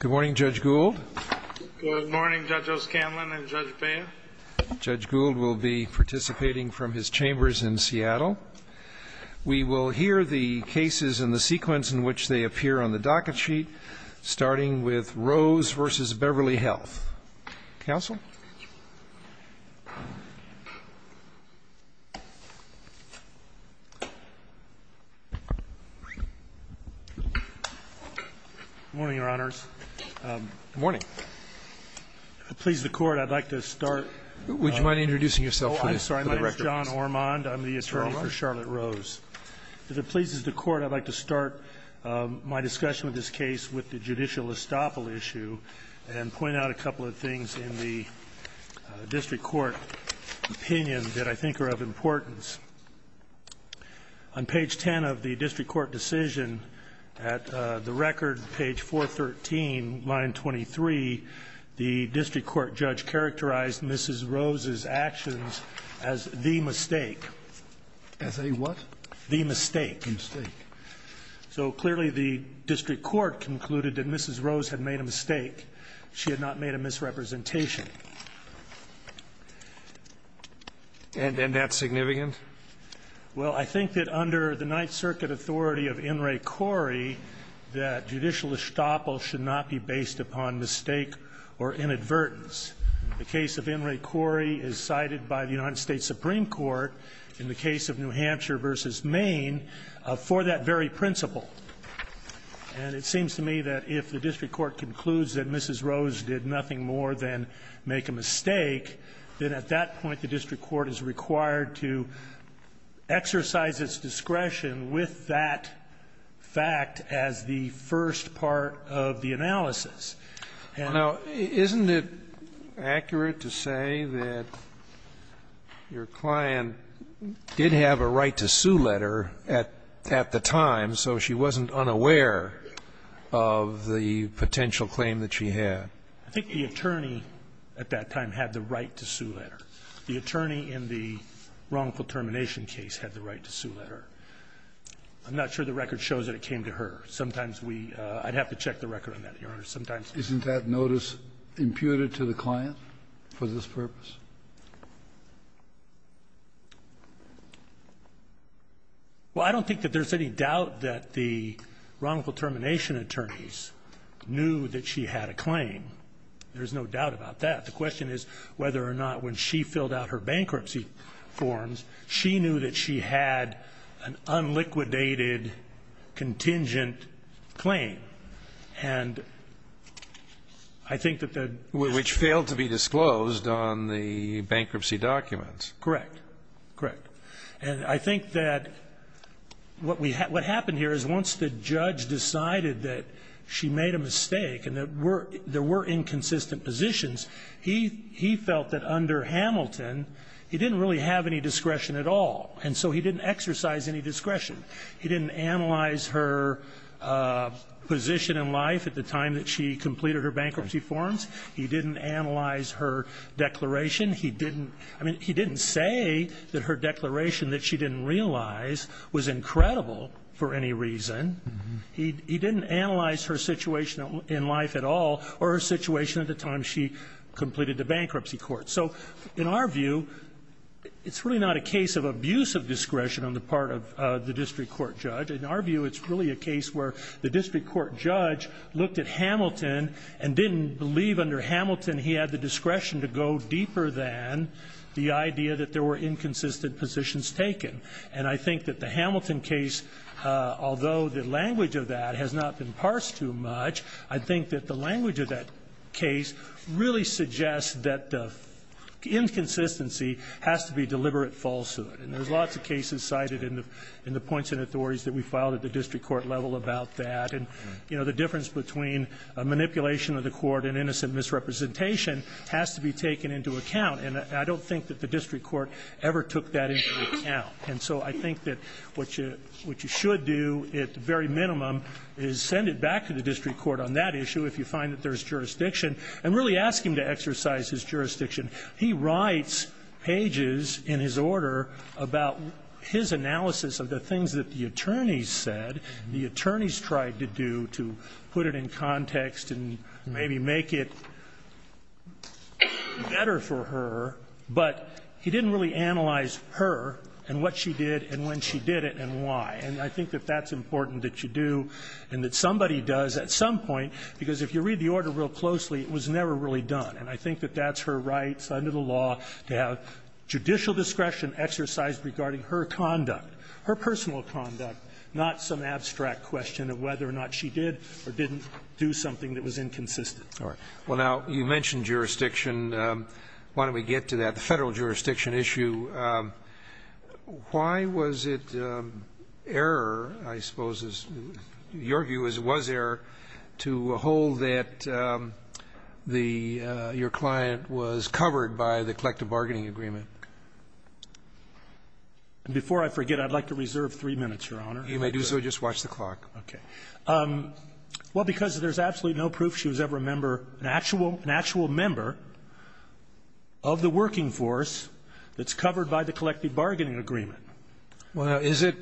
Good morning, Judge Gould. Good morning, Judge O'Scanlan and Judge Bain. Judge Gould will be participating from his chambers in Seattle. We will hear the cases and the sequence in which they appear on the docket sheet, starting with Rose v. Beverly Health. Counsel? Good morning, Your Honors. Good morning. If it pleases the Court, I'd like to start by introducing myself, please. I'm sorry. My name is John Ormond. I'm the attorney for Charlotte Rose. If it pleases the Court, I'd like to start my discussion of this case with the judicial district court opinion that I think are of importance. On page 10 of the district court decision, at the record, page 413, line 23, the district court judge characterized Mrs. Rose's actions as the mistake. As a what? The mistake. The mistake. So clearly the district court concluded that Mrs. Rose had made a mistake. She had not made a misrepresentation. And that's significant? Well, I think that under the Ninth Circuit authority of In re Cori, that judicial estoppel should not be based upon mistake or inadvertence. The case of In re Cori is cited by the United States Supreme Court in the case of New Hampshire v. Maine for that very principle. And it seems to me that if the district court concludes that Mrs. Rose did nothing more than make a mistake, then at that point the district court is required to exercise its discretion with that fact as the first part of the analysis. And now, isn't it accurate to say that your client did have a right to sue letter at the time, so she wasn't unaware of the potential claim that she had? I think the attorney at that time had the right to sue letter. The attorney in the wrongful termination case had the right to sue letter. I'm not sure the record shows that it came to her. Sometimes we – I'd have to check the record on that, Your Honor. Sometimes we don't. Isn't that notice imputed to the client for this purpose? Well, I don't think that there's any doubt that the wrongful termination attorneys knew that she had a claim. There's no doubt about that. The question is whether or not when she filled out her bankruptcy forms, she knew that she had an unliquidated contingent claim. And I think that the – Which failed to be disclosed on the bankruptcy documents. Correct. Correct. And I think that what happened here is once the judge decided that she made a mistake and that there were inconsistent positions, he felt that under Hamilton, he didn't really have any discretion at all. And so he didn't exercise any discretion. He didn't analyze her position in life at the time that she completed her bankruptcy forms. He didn't analyze her declaration. He didn't – I mean, he didn't say that her declaration that she didn't realize was incredible for any reason. He didn't analyze her situation in life at all or her situation at the time she completed the bankruptcy court. So in our view, it's really not a case of abuse of discretion on the part of the district court judge. In our view, it's really a case where the district court judge looked at Hamilton and didn't believe under Hamilton he had the discretion to go deeper than the idea that there were inconsistent positions taken. And I think that the Hamilton case, although the language of that has not been parsed too much, I think that the language of that case really suggests that the inconsistency has to be deliberate falsehood. And there's lots of cases cited in the points and authorities that we filed at the district court level about that. And the difference between manipulation of the court and innocent misrepresentation has to be taken into account. And I don't think that the district court ever took that into account. And so I think that what you should do at the very minimum is send it back to the district court on that issue if you find that there's jurisdiction and really ask him to exercise his jurisdiction. He writes pages in his order about his analysis of the things that the attorneys said, the attorneys tried to do to put it in context and maybe make it better for her, but he didn't really analyze her and what she did and when she did it and why. And I think that that's important that you do and that somebody does at some point, because if you read the order real closely, it was never really done. And I think that that's her right under the law to have judicial discretion exercised regarding her conduct, her personal conduct, not some abstract question of whether or not she did or didn't do something that was inconsistent. All right. Well, now, you mentioned jurisdiction. Why don't we get to that? The Federal jurisdiction issue, why was it error, I suppose, your view is it was error to hold that the your client was covered by the collective bargaining agreement? Before I forget, I'd like to reserve three minutes, Your Honor. You may do so. Just watch the clock. Okay. Well, because there's absolutely no proof she was ever a member, an actual member of the working force that's covered by the collective bargaining agreement. Well, is it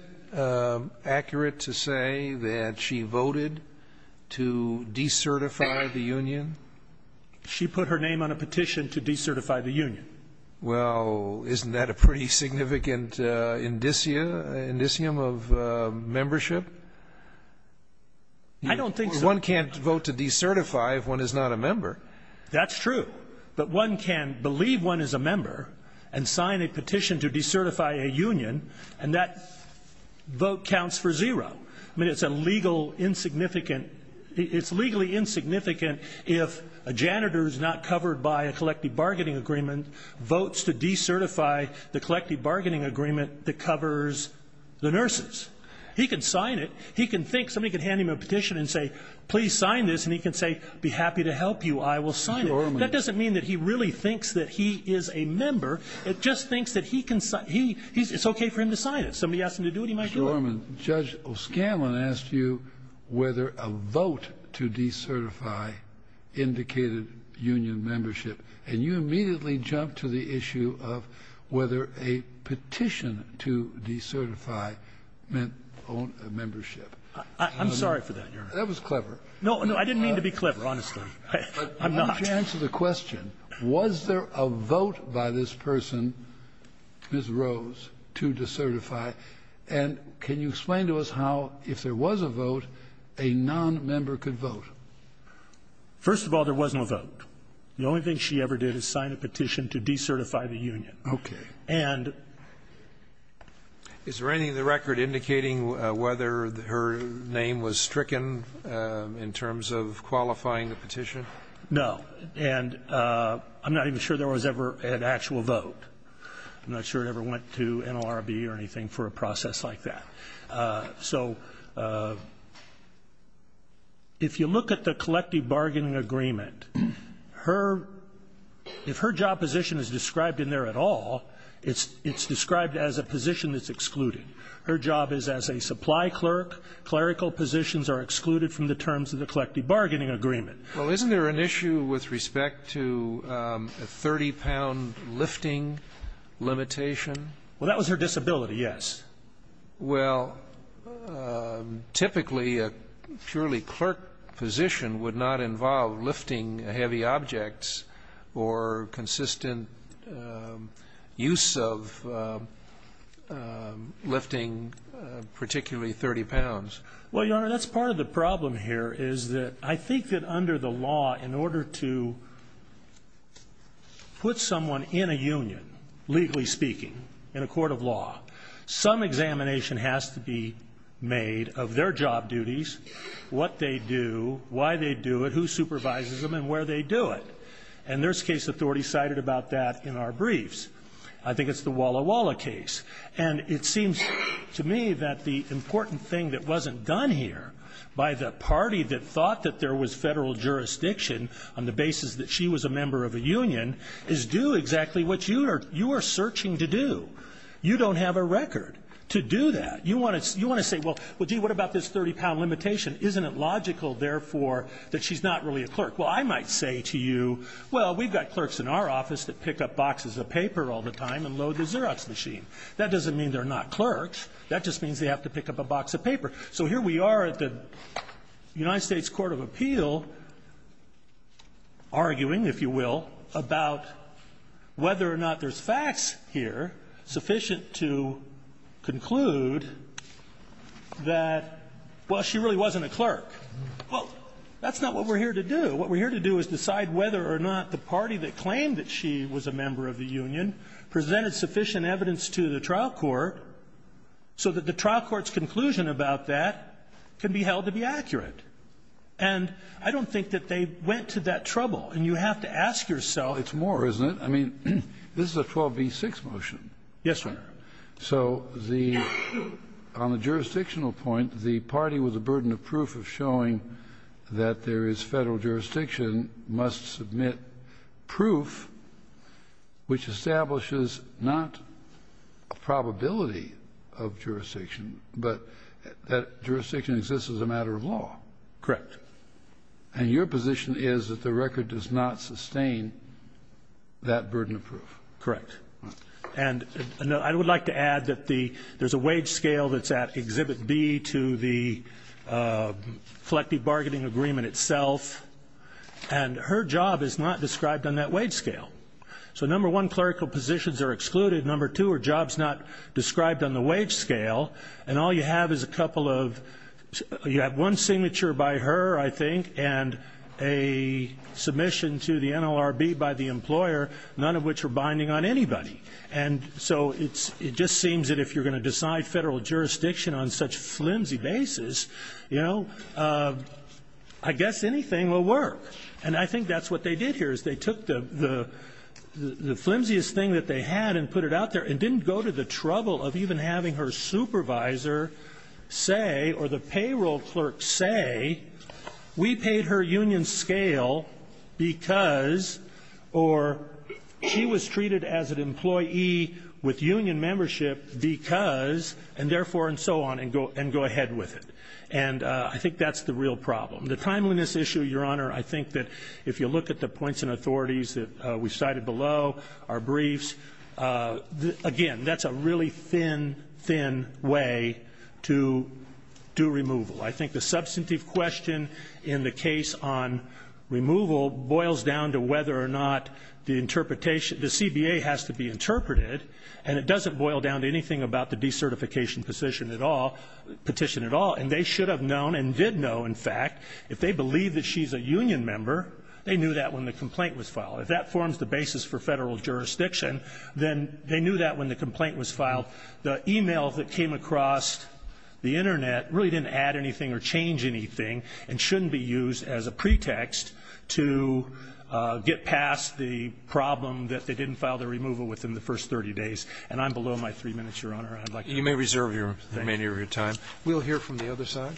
accurate to say that she voted to decertify the union? She put her name on a petition to decertify the union. Well, isn't that a pretty significant indicia, indicium of membership? I don't think so. One can't vote to decertify if one is not a member. That's true. But one can believe one is a member and sign a petition to decertify a union, and that vote counts for zero. I mean, it's a legal insignificant, it's legally insignificant if a janitor's not covered by a collective bargaining agreement votes to decertify the collective bargaining agreement that covers the nurses. He can sign it, he can think, somebody can hand him a petition and say, please sign this, and he can say, be happy to help you, I will sign it. That doesn't mean that he really thinks that he is a member. It just thinks that he can, it's okay for him to sign it. Somebody asked him to do it, he might do it. Mr. Orman, Judge O'Scanlan asked you whether a vote to decertify indicated union membership, and you immediately jumped to the issue of whether a petition to decertify meant membership. I'm sorry for that, Your Honor. That was clever. No, no, I didn't mean to be clever, honestly. I'm not. But I want you to answer the question, was there a vote by this person, Ms. Rose, to decertify, and can you explain to us how, if there was a vote, a nonmember could vote? First of all, there wasn't a vote. The only thing she ever did is sign a petition to decertify the union. Okay. And there was no vote. Is there anything in the record indicating whether her name was stricken in terms of qualifying the petition? No. And I'm not even sure there was ever an actual vote. I'm not sure it ever went to NLRB or anything for a process like that. So if you look at the collective bargaining agreement, her – if her job position is described in there at all, it's described as a position that's excluded. Her job is as a supply clerk. Clerical positions are excluded from the terms of the collective bargaining agreement. Well, isn't there an issue with respect to a 30-pound lifting limitation? Well, that was her disability, yes. Well, typically, a purely clerk position would not involve lifting heavy objects or consistent use of lifting, particularly 30 pounds. Well, Your Honor, that's part of the problem here is that I think that under the law, in order to put someone in a union, legally speaking, in a court of law, some examination has to be made of their job duties, what they do, why they do it, who supervises them, and where they do it. And there's case authority cited about that in our briefs. I think it's the Walla Walla case. And it seems to me that the important thing that wasn't done here by the party that thought that there was federal jurisdiction on the basis that she was a member of a union is do exactly what you are searching to do. You don't have a record to do that. You want to say, well, gee, what about this 30-pound limitation? Isn't it logical, therefore, that she's not really a clerk? Well, I might say to you, well, we've got clerks in our office that pick up boxes of paper all the time and load the Xerox machine. That doesn't mean they're not clerks. That just means they have to pick up a box of paper. So here we are at the United States court of appeal arguing, if you will, about whether or not there's facts here sufficient to conclude that, well, she really wasn't a clerk. Well, that's not what we're here to do. What we're here to do is decide whether or not the party that claimed that she was a member of the union presented sufficient evidence to the trial court so that the trial court's conclusion about that can be held to be accurate. And I don't think that they went to that trouble. And you have to ask yourself the question of whether or not she was a clerk. It's more, isn't it? I mean, this is a 12b-6 motion. Yes, Your Honor. So the – on the jurisdictional point, the party with the burden of proof of showing that there is Federal jurisdiction must submit proof which establishes not a probability of jurisdiction, but that jurisdiction exists as a matter of law. Correct. And your position is that the record does not sustain that burden of proof. Correct. And I would like to add that the – there's a wage scale that's at Exhibit B to the collective bargaining agreement itself. And her job is not described on that wage scale. So number one, clerical positions are excluded. Number two, her job's not described on the wage scale. And all you have is a couple of – you have one signature by her, I think, and a submission to the NLRB by the employer, none of which are binding on anybody. And so it's – it just seems that if you're going to decide Federal jurisdiction on such flimsy basis, you know, I guess anything will work. And I think that's what they did here, is they took the flimsiest thing that they had and put it out there and didn't go to the trouble of even having her supervisor say or the payroll clerk say, we paid her union scale because – or she was treated as an employee with union membership because, and therefore, and so on, and go ahead with it. And I think that's the real problem. The timeliness issue, Your Honor, I think that if you look at the points and authorities that we cited below, our briefs, again, that's a really thin, thin way to do removal. I think the substantive question in the case on removal boils down to whether or not the interpretation – the CBA has to be interpreted, and it doesn't boil down to anything about the decertification position at all – petition at all. And they should have known and did know, in fact, if they believe that she's a union member, they knew that when the complaint was filed. If that forms the basis for Federal jurisdiction, then they knew that when the complaint was filed. The e-mail that came across the Internet really didn't add anything or change anything and shouldn't be used as a pretext to get past the problem that they didn't file the removal with in the first 30 days. And I'm below my three minutes, Your Honor. I'd like to go on. You may reserve your – the remainder of your time. We'll hear from the other side.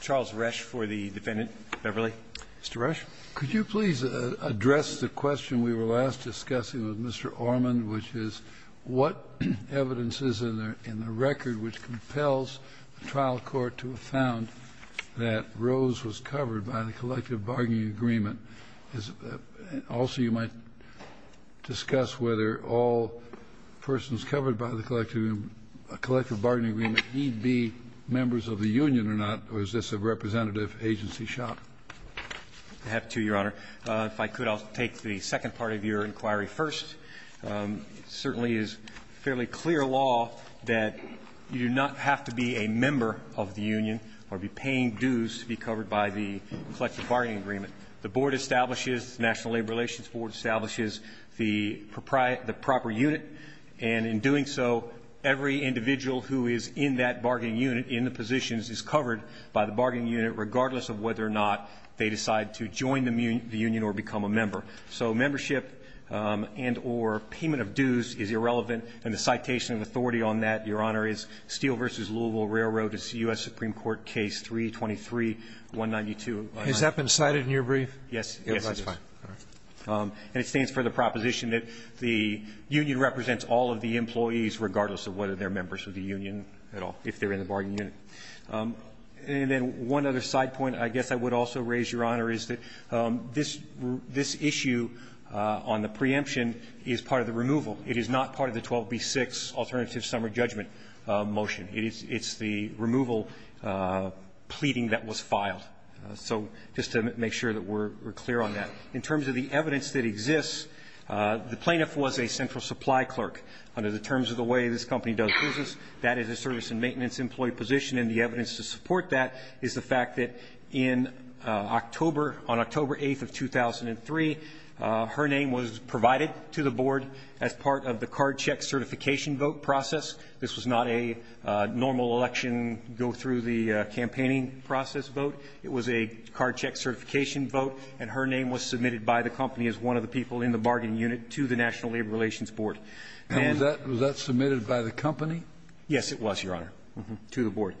Charles Rusch for the defendant. Beverly. Mr. Rusch. Could you please address the question we were last discussing with Mr. Orman, which is what evidence is in the record which compels the trial court to have found that Rose was covered by the collective bargaining agreement? Also, you might discuss whether all persons covered by the collective bargaining agreement need be members of the union or not, or is this a representative agency shot? I have two, Your Honor. If I could, I'll take the second part of your inquiry first. It certainly is fairly clear law that you do not have to be a member of the union or be paying dues to be covered by the collective bargaining agreement. The board establishes – the National Labor Relations Board establishes the proprietary – the proper unit. And in doing so, every individual who is in that bargaining unit, in the positions, is covered by the bargaining unit, regardless of whether or not they decide to join the union or become a member. So membership and or payment of dues is irrelevant, and the citation of authority on that, Your Honor, is Steel v. Louisville Railroad. It's U.S. Supreme Court Case 323-192. Has that been cited in your brief? Yes. Yes, it is. That's fine. And it stands for the proposition that the union represents all of the employees, regardless of whether they're members of the union at all, if they're in the And then one other side point, I guess I would also raise, Your Honor, is that this issue on the preemption is part of the removal. It is not part of the 12b-6 alternative summer judgment motion. It's the removal pleading that was filed. So just to make sure that we're clear on that. In terms of the evidence that exists, the plaintiff was a central supply clerk. Under the terms of the way this company does business, that is a service and maintenance employee position, and the evidence to support that is the fact that on October 8th of 2003, her name was provided to the board as part of the card check certification vote process. This was not a normal election, go-through-the-campaigning process vote. It was a card check certification vote, and her name was submitted by the company as one of the people in the bargaining unit to the National Labor Relations Board. Was that submitted by the company? Yes, it was, Your Honor, to the board.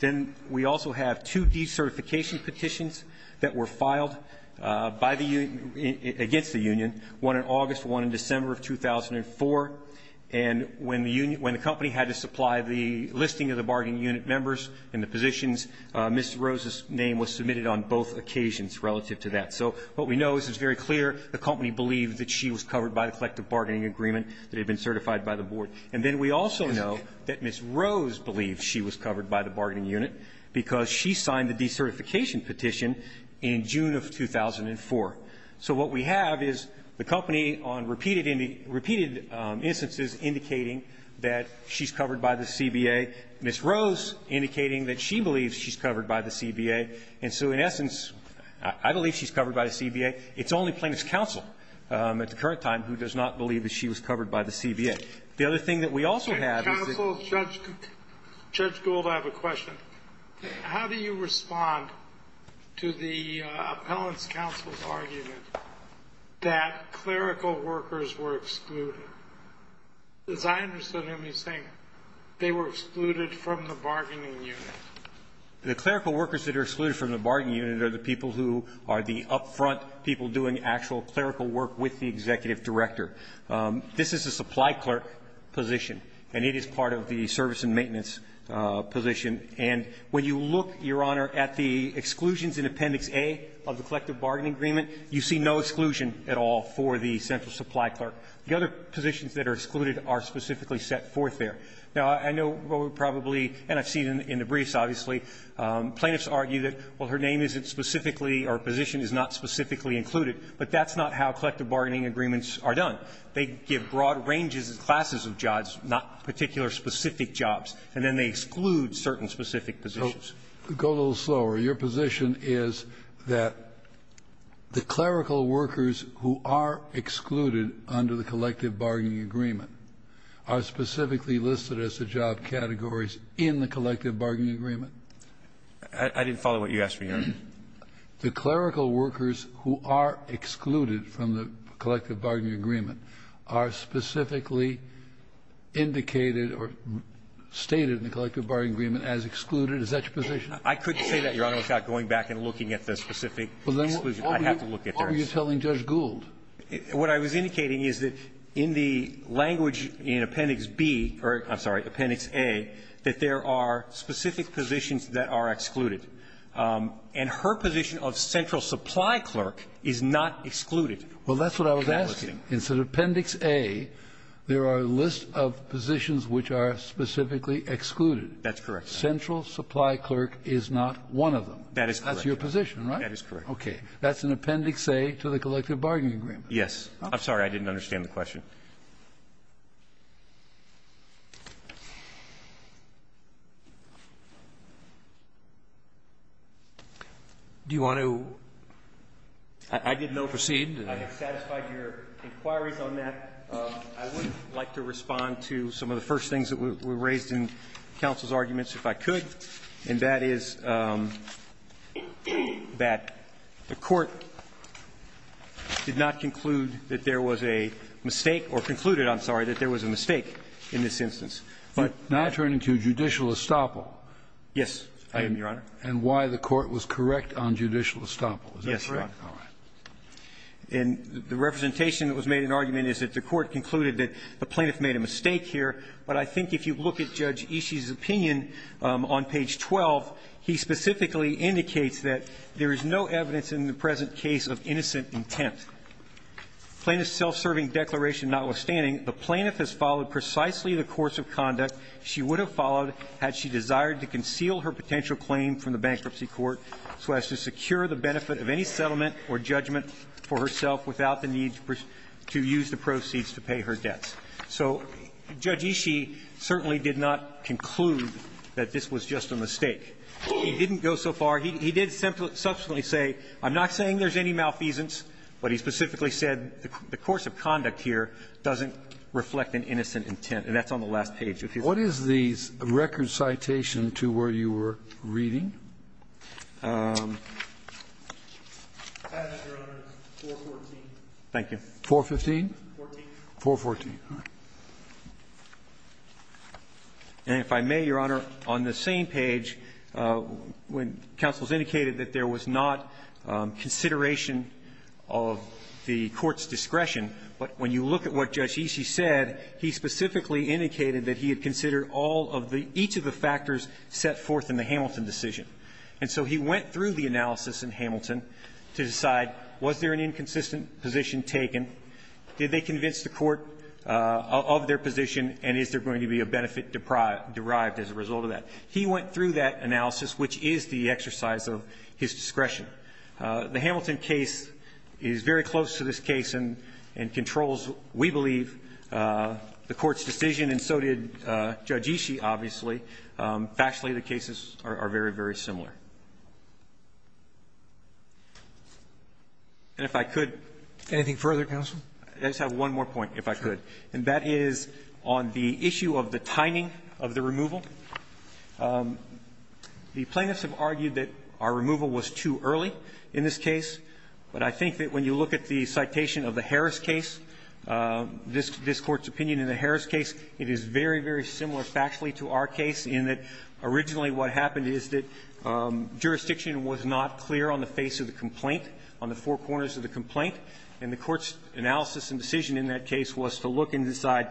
Then we also have two decertification petitions that were filed by the union, against the union, one in August, one in December of 2004, and when the company had to supply the listing of the bargaining unit members and the positions, Ms. Rose's name was submitted on both occasions relative to that. So what we know is it's very clear the company believed that she was covered by the collective bargaining agreement that had been certified by the board. And then we also know that Ms. Rose believed she was covered by the bargaining unit because she signed the decertification petition in June of 2004. So what we have is the company on repeated instances indicating that she's covered by the CBA, Ms. Rose indicating that she believes she's covered by the CBA, and so in essence, I believe she's covered by the CBA. It's only plaintiff's counsel at the current time who does not believe that she was covered by the CBA. The other thing that we also have is that... Counsel, Judge Gould, I have a question. How do you respond to the appellant's counsel's argument that clerical workers were excluded? As I understood him, he's saying they were excluded from the bargaining unit. The clerical workers that are excluded from the bargaining unit are the people who are the upfront people doing actual clerical work with the executive director. This is a supply clerk position, and it is part of the service and maintenance position. And when you look, Your Honor, at the exclusions in Appendix A of the collective bargaining agreement, you see no exclusion at all for the central supply clerk. The other positions that are excluded are specifically set forth there. Now, I know what we probably, and I've seen it in the briefs, obviously, plaintiffs argue that, well, her name isn't specifically or position is not specifically included, but that's not how collective bargaining agreements are done. They give broad ranges and classes of jobs, not particular specific jobs, and then they exclude certain specific positions. So go a little slower. Your position is that the clerical workers who are excluded under the collective bargaining agreement are specifically listed as the job categories in the collective I didn't follow what you asked me, Your Honor. The clerical workers who are excluded from the collective bargaining agreement are specifically indicated or stated in the collective bargaining agreement as excluded. Is that your position? I couldn't say that, Your Honor, without going back and looking at the specific exclusion. I'd have to look at that. Well, then what were you telling Judge Gould? What I was indicating is that in the language in Appendix B or, I'm sorry, Appendix A, that there are specific positions that are excluded. And her position of central supply clerk is not excluded. Well, that's what I was asking. In Appendix A, there are lists of positions which are specifically excluded. That's correct. Central supply clerk is not one of them. That is correct. That's your position, right? That is correct. Okay. That's in Appendix A to the collective bargaining agreement. Yes. I'm sorry. I didn't understand the question. Do you want to? I did not proceed. I have satisfied your inquiries on that. I would like to respond to some of the first things that were raised in counsel's arguments, if I could, and that is that the Court did not conclude that there was a mistake or concluded, I'm sorry, that there was a mistake in this instance. But not turning to judicial estoppel. Yes, Your Honor. And why the Court was correct on judicial estoppel. Is that correct? Yes, Your Honor. All right. And the representation that was made in argument is that the Court concluded that the plaintiff made a mistake here. But I think if you look at Judge Ishii's opinion on page 12, he specifically indicates that there is no evidence in the present case of innocent intent. Plaintiff's self-serving declaration notwithstanding, the plaintiff has followed precisely the course of conduct she would have followed had she desired to conceal her potential claim from the bankruptcy court so as to secure the benefit of any settlement or judgment for herself without the need to use the proceeds to pay her debts. So Judge Ishii certainly did not conclude that this was just a mistake. He didn't go so far. He did subsequently say, I'm not saying there's any malfeasance, but he specifically said the course of conduct here doesn't reflect an innocent intent. And that's on the last page of his report. What is the record citation to where you were reading? Thank you. 415? 414. And if I may, Your Honor, on the same page, when counsel has indicated that there was not consideration of the Court's discretion, but when you look at what Judge Ishii did, he considered all of the ‑‑ each of the factors set forth in the Hamilton decision. And so he went through the analysis in Hamilton to decide was there an inconsistent position taken, did they convince the Court of their position, and is there going to be a benefit derived as a result of that. He went through that analysis, which is the exercise of his discretion. The Hamilton case is very close to this case and controls, we believe, the Court's decision, and so did Judge Ishii, obviously. Factually, the cases are very, very similar. And if I could ‑‑ Anything further, counsel? I just have one more point, if I could. And that is on the issue of the timing of the removal. The plaintiffs have argued that our removal was too early in this case, but I think that when you look at the citation of the Harris case, this Court's opinion in the case, it is very, very similar factually to our case in that originally what happened is that jurisdiction was not clear on the face of the complaint, on the four corners of the complaint, and the Court's analysis and decision in that case was to look and decide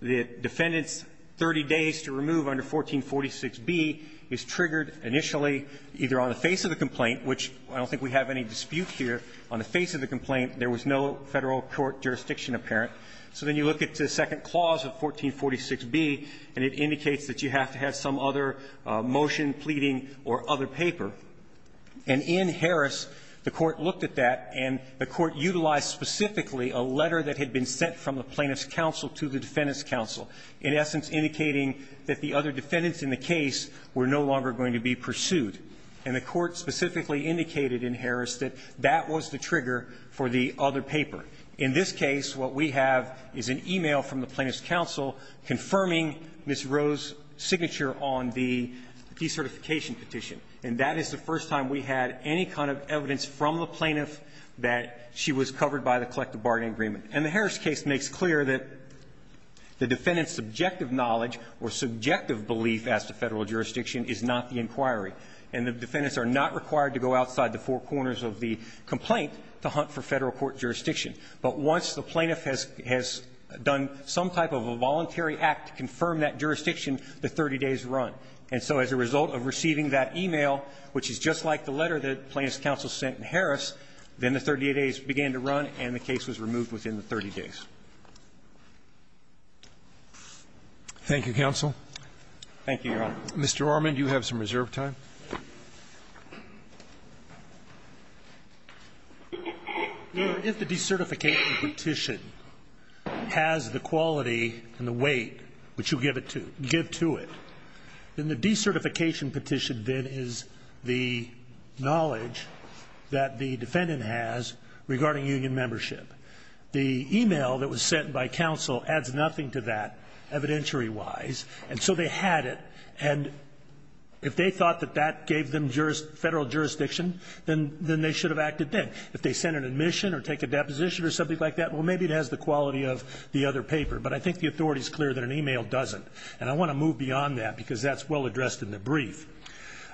that defendant's 30 days to remove under 1446B is triggered initially either on the face of the complaint, which I don't think we have any dispute here, on the face of the complaint, there was no Federal court jurisdiction apparent. So then you look at the second clause of 1446B, and it indicates that you have to have some other motion pleading or other paper. And in Harris, the Court looked at that, and the Court utilized specifically a letter that had been sent from the plaintiff's counsel to the defendant's counsel, in essence indicating that the other defendants in the case were no longer going to be pursued. And the Court specifically indicated in Harris that that was the trigger for the other paper. In this case, what we have is an e-mail from the plaintiff's counsel confirming Ms. Roe's signature on the decertification petition, and that is the first time we had any kind of evidence from the plaintiff that she was covered by the collective bargaining agreement. And the Harris case makes clear that the defendant's subjective knowledge or subjective belief as to Federal jurisdiction is not the inquiry. And the defendants are not required to go outside the four corners of the complaint to hunt for Federal court jurisdiction. But once the plaintiff has done some type of a voluntary act to confirm that jurisdiction, the 30 days run. And so as a result of receiving that e-mail, which is just like the letter that the plaintiff's counsel sent in Harris, then the 30 days began to run and the case was removed within the 30 days. Roberts. Thank you, counsel. Thank you, Your Honor. Mr. Armand, you have some reserve time. Your Honor, if the decertification petition has the quality and the weight which you give to it, then the decertification petition then is the knowledge that the defendant has regarding union membership. The e-mail that was sent by counsel adds nothing to that evidentiary-wise, and so they had it. And if they thought that that gave them Federal jurisdiction, then they should have acted then. If they sent an admission or take a deposition or something like that, well, maybe it has the quality of the other paper. But I think the authority is clear that an e-mail doesn't. And I want to move beyond that because that's well addressed in the brief.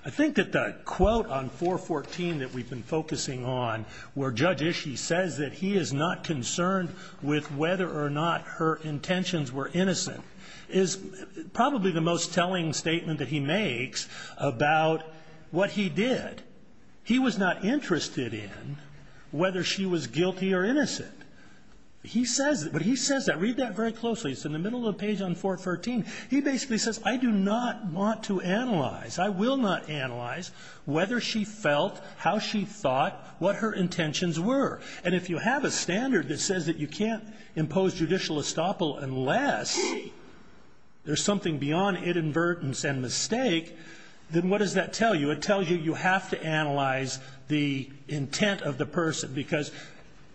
I think that the quote on 414 that we've been focusing on, where Judge Ishii says that he is not concerned with whether or not her intentions were innocent, is probably the most telling statement that he makes about what he did. He was not interested in whether she was guilty or innocent. He says that. But he says that. Read that very closely. It's in the middle of the page on 414. He basically says, I do not want to analyze, I will not analyze, whether she felt, how she thought, what her intentions were. And if you have a standard that says that you can't impose judicial estoppel unless you see there's something beyond inadvertence and mistake, then what does that tell you? It tells you you have to analyze the intent of the person because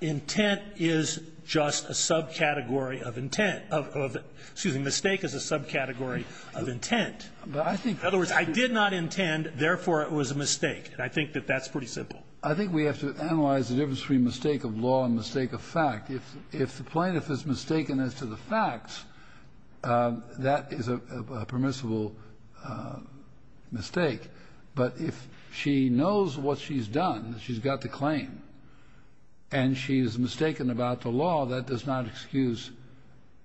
intent is just a subcategory of intent of, excuse me, mistake is a subcategory of intent. In other words, I did not intend, therefore it was a mistake. And I think that that's pretty simple. I think we have to analyze the difference between mistake of law and mistake of fact. If the plaintiff is mistaken as to the facts, that is a permissible mistake. But if she knows what she's done, that she's got the claim, and she is mistaken about the law, that does not excuse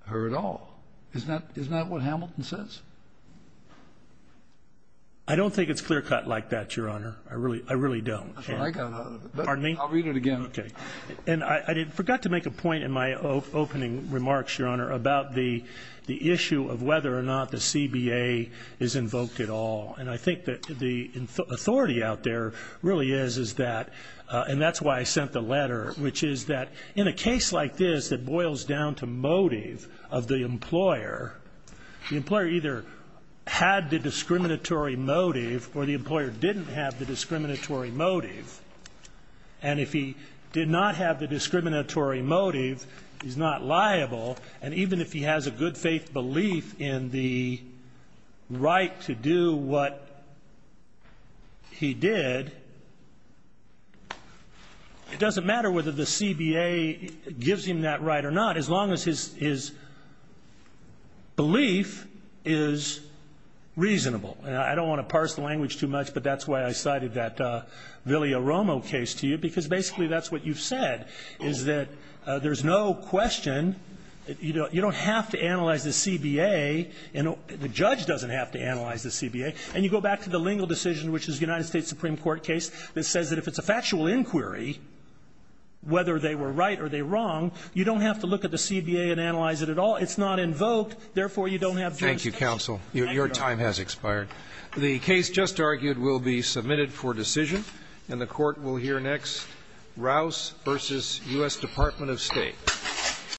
her at all. Isn't that what Hamilton says? I don't think it's clear cut like that, Your Honor. I really don't. I got another one. Pardon me? I'll read it again. OK. And I forgot to make a point in my opening remarks, Your Honor, about the issue of whether or not the CBA is invoked at all. And I think that the authority out there really is that, and that's why I sent the letter, which is that in a case like this that boils down to motive of the employer, the employer either had the discriminatory motive or the employer didn't have the discriminatory motive. And if he did not have the discriminatory motive, he's not liable. And even if he has a good faith belief in the right to do what he did, it doesn't matter whether the CBA gives him that right or not, as long as his belief is reasonable. And I don't want to parse the language too much, but that's why I cited that Villiaromo case to you, because basically that's what you've said, is that there's no question that you don't have to analyze the CBA, and the judge doesn't have to analyze the CBA, and you go back to the lingual decision, which is the United States Supreme Court case that says that if it's a factual inquiry, whether they were right or they were wrong, you don't have to look at the CBA and analyze it at all. It's not invoked. Therefore, you don't have jurisdiction. Thank you, counsel. Your time has expired. The case just argued will be submitted for decision, and the Court will hear next Rouse v. U.S. Department of State.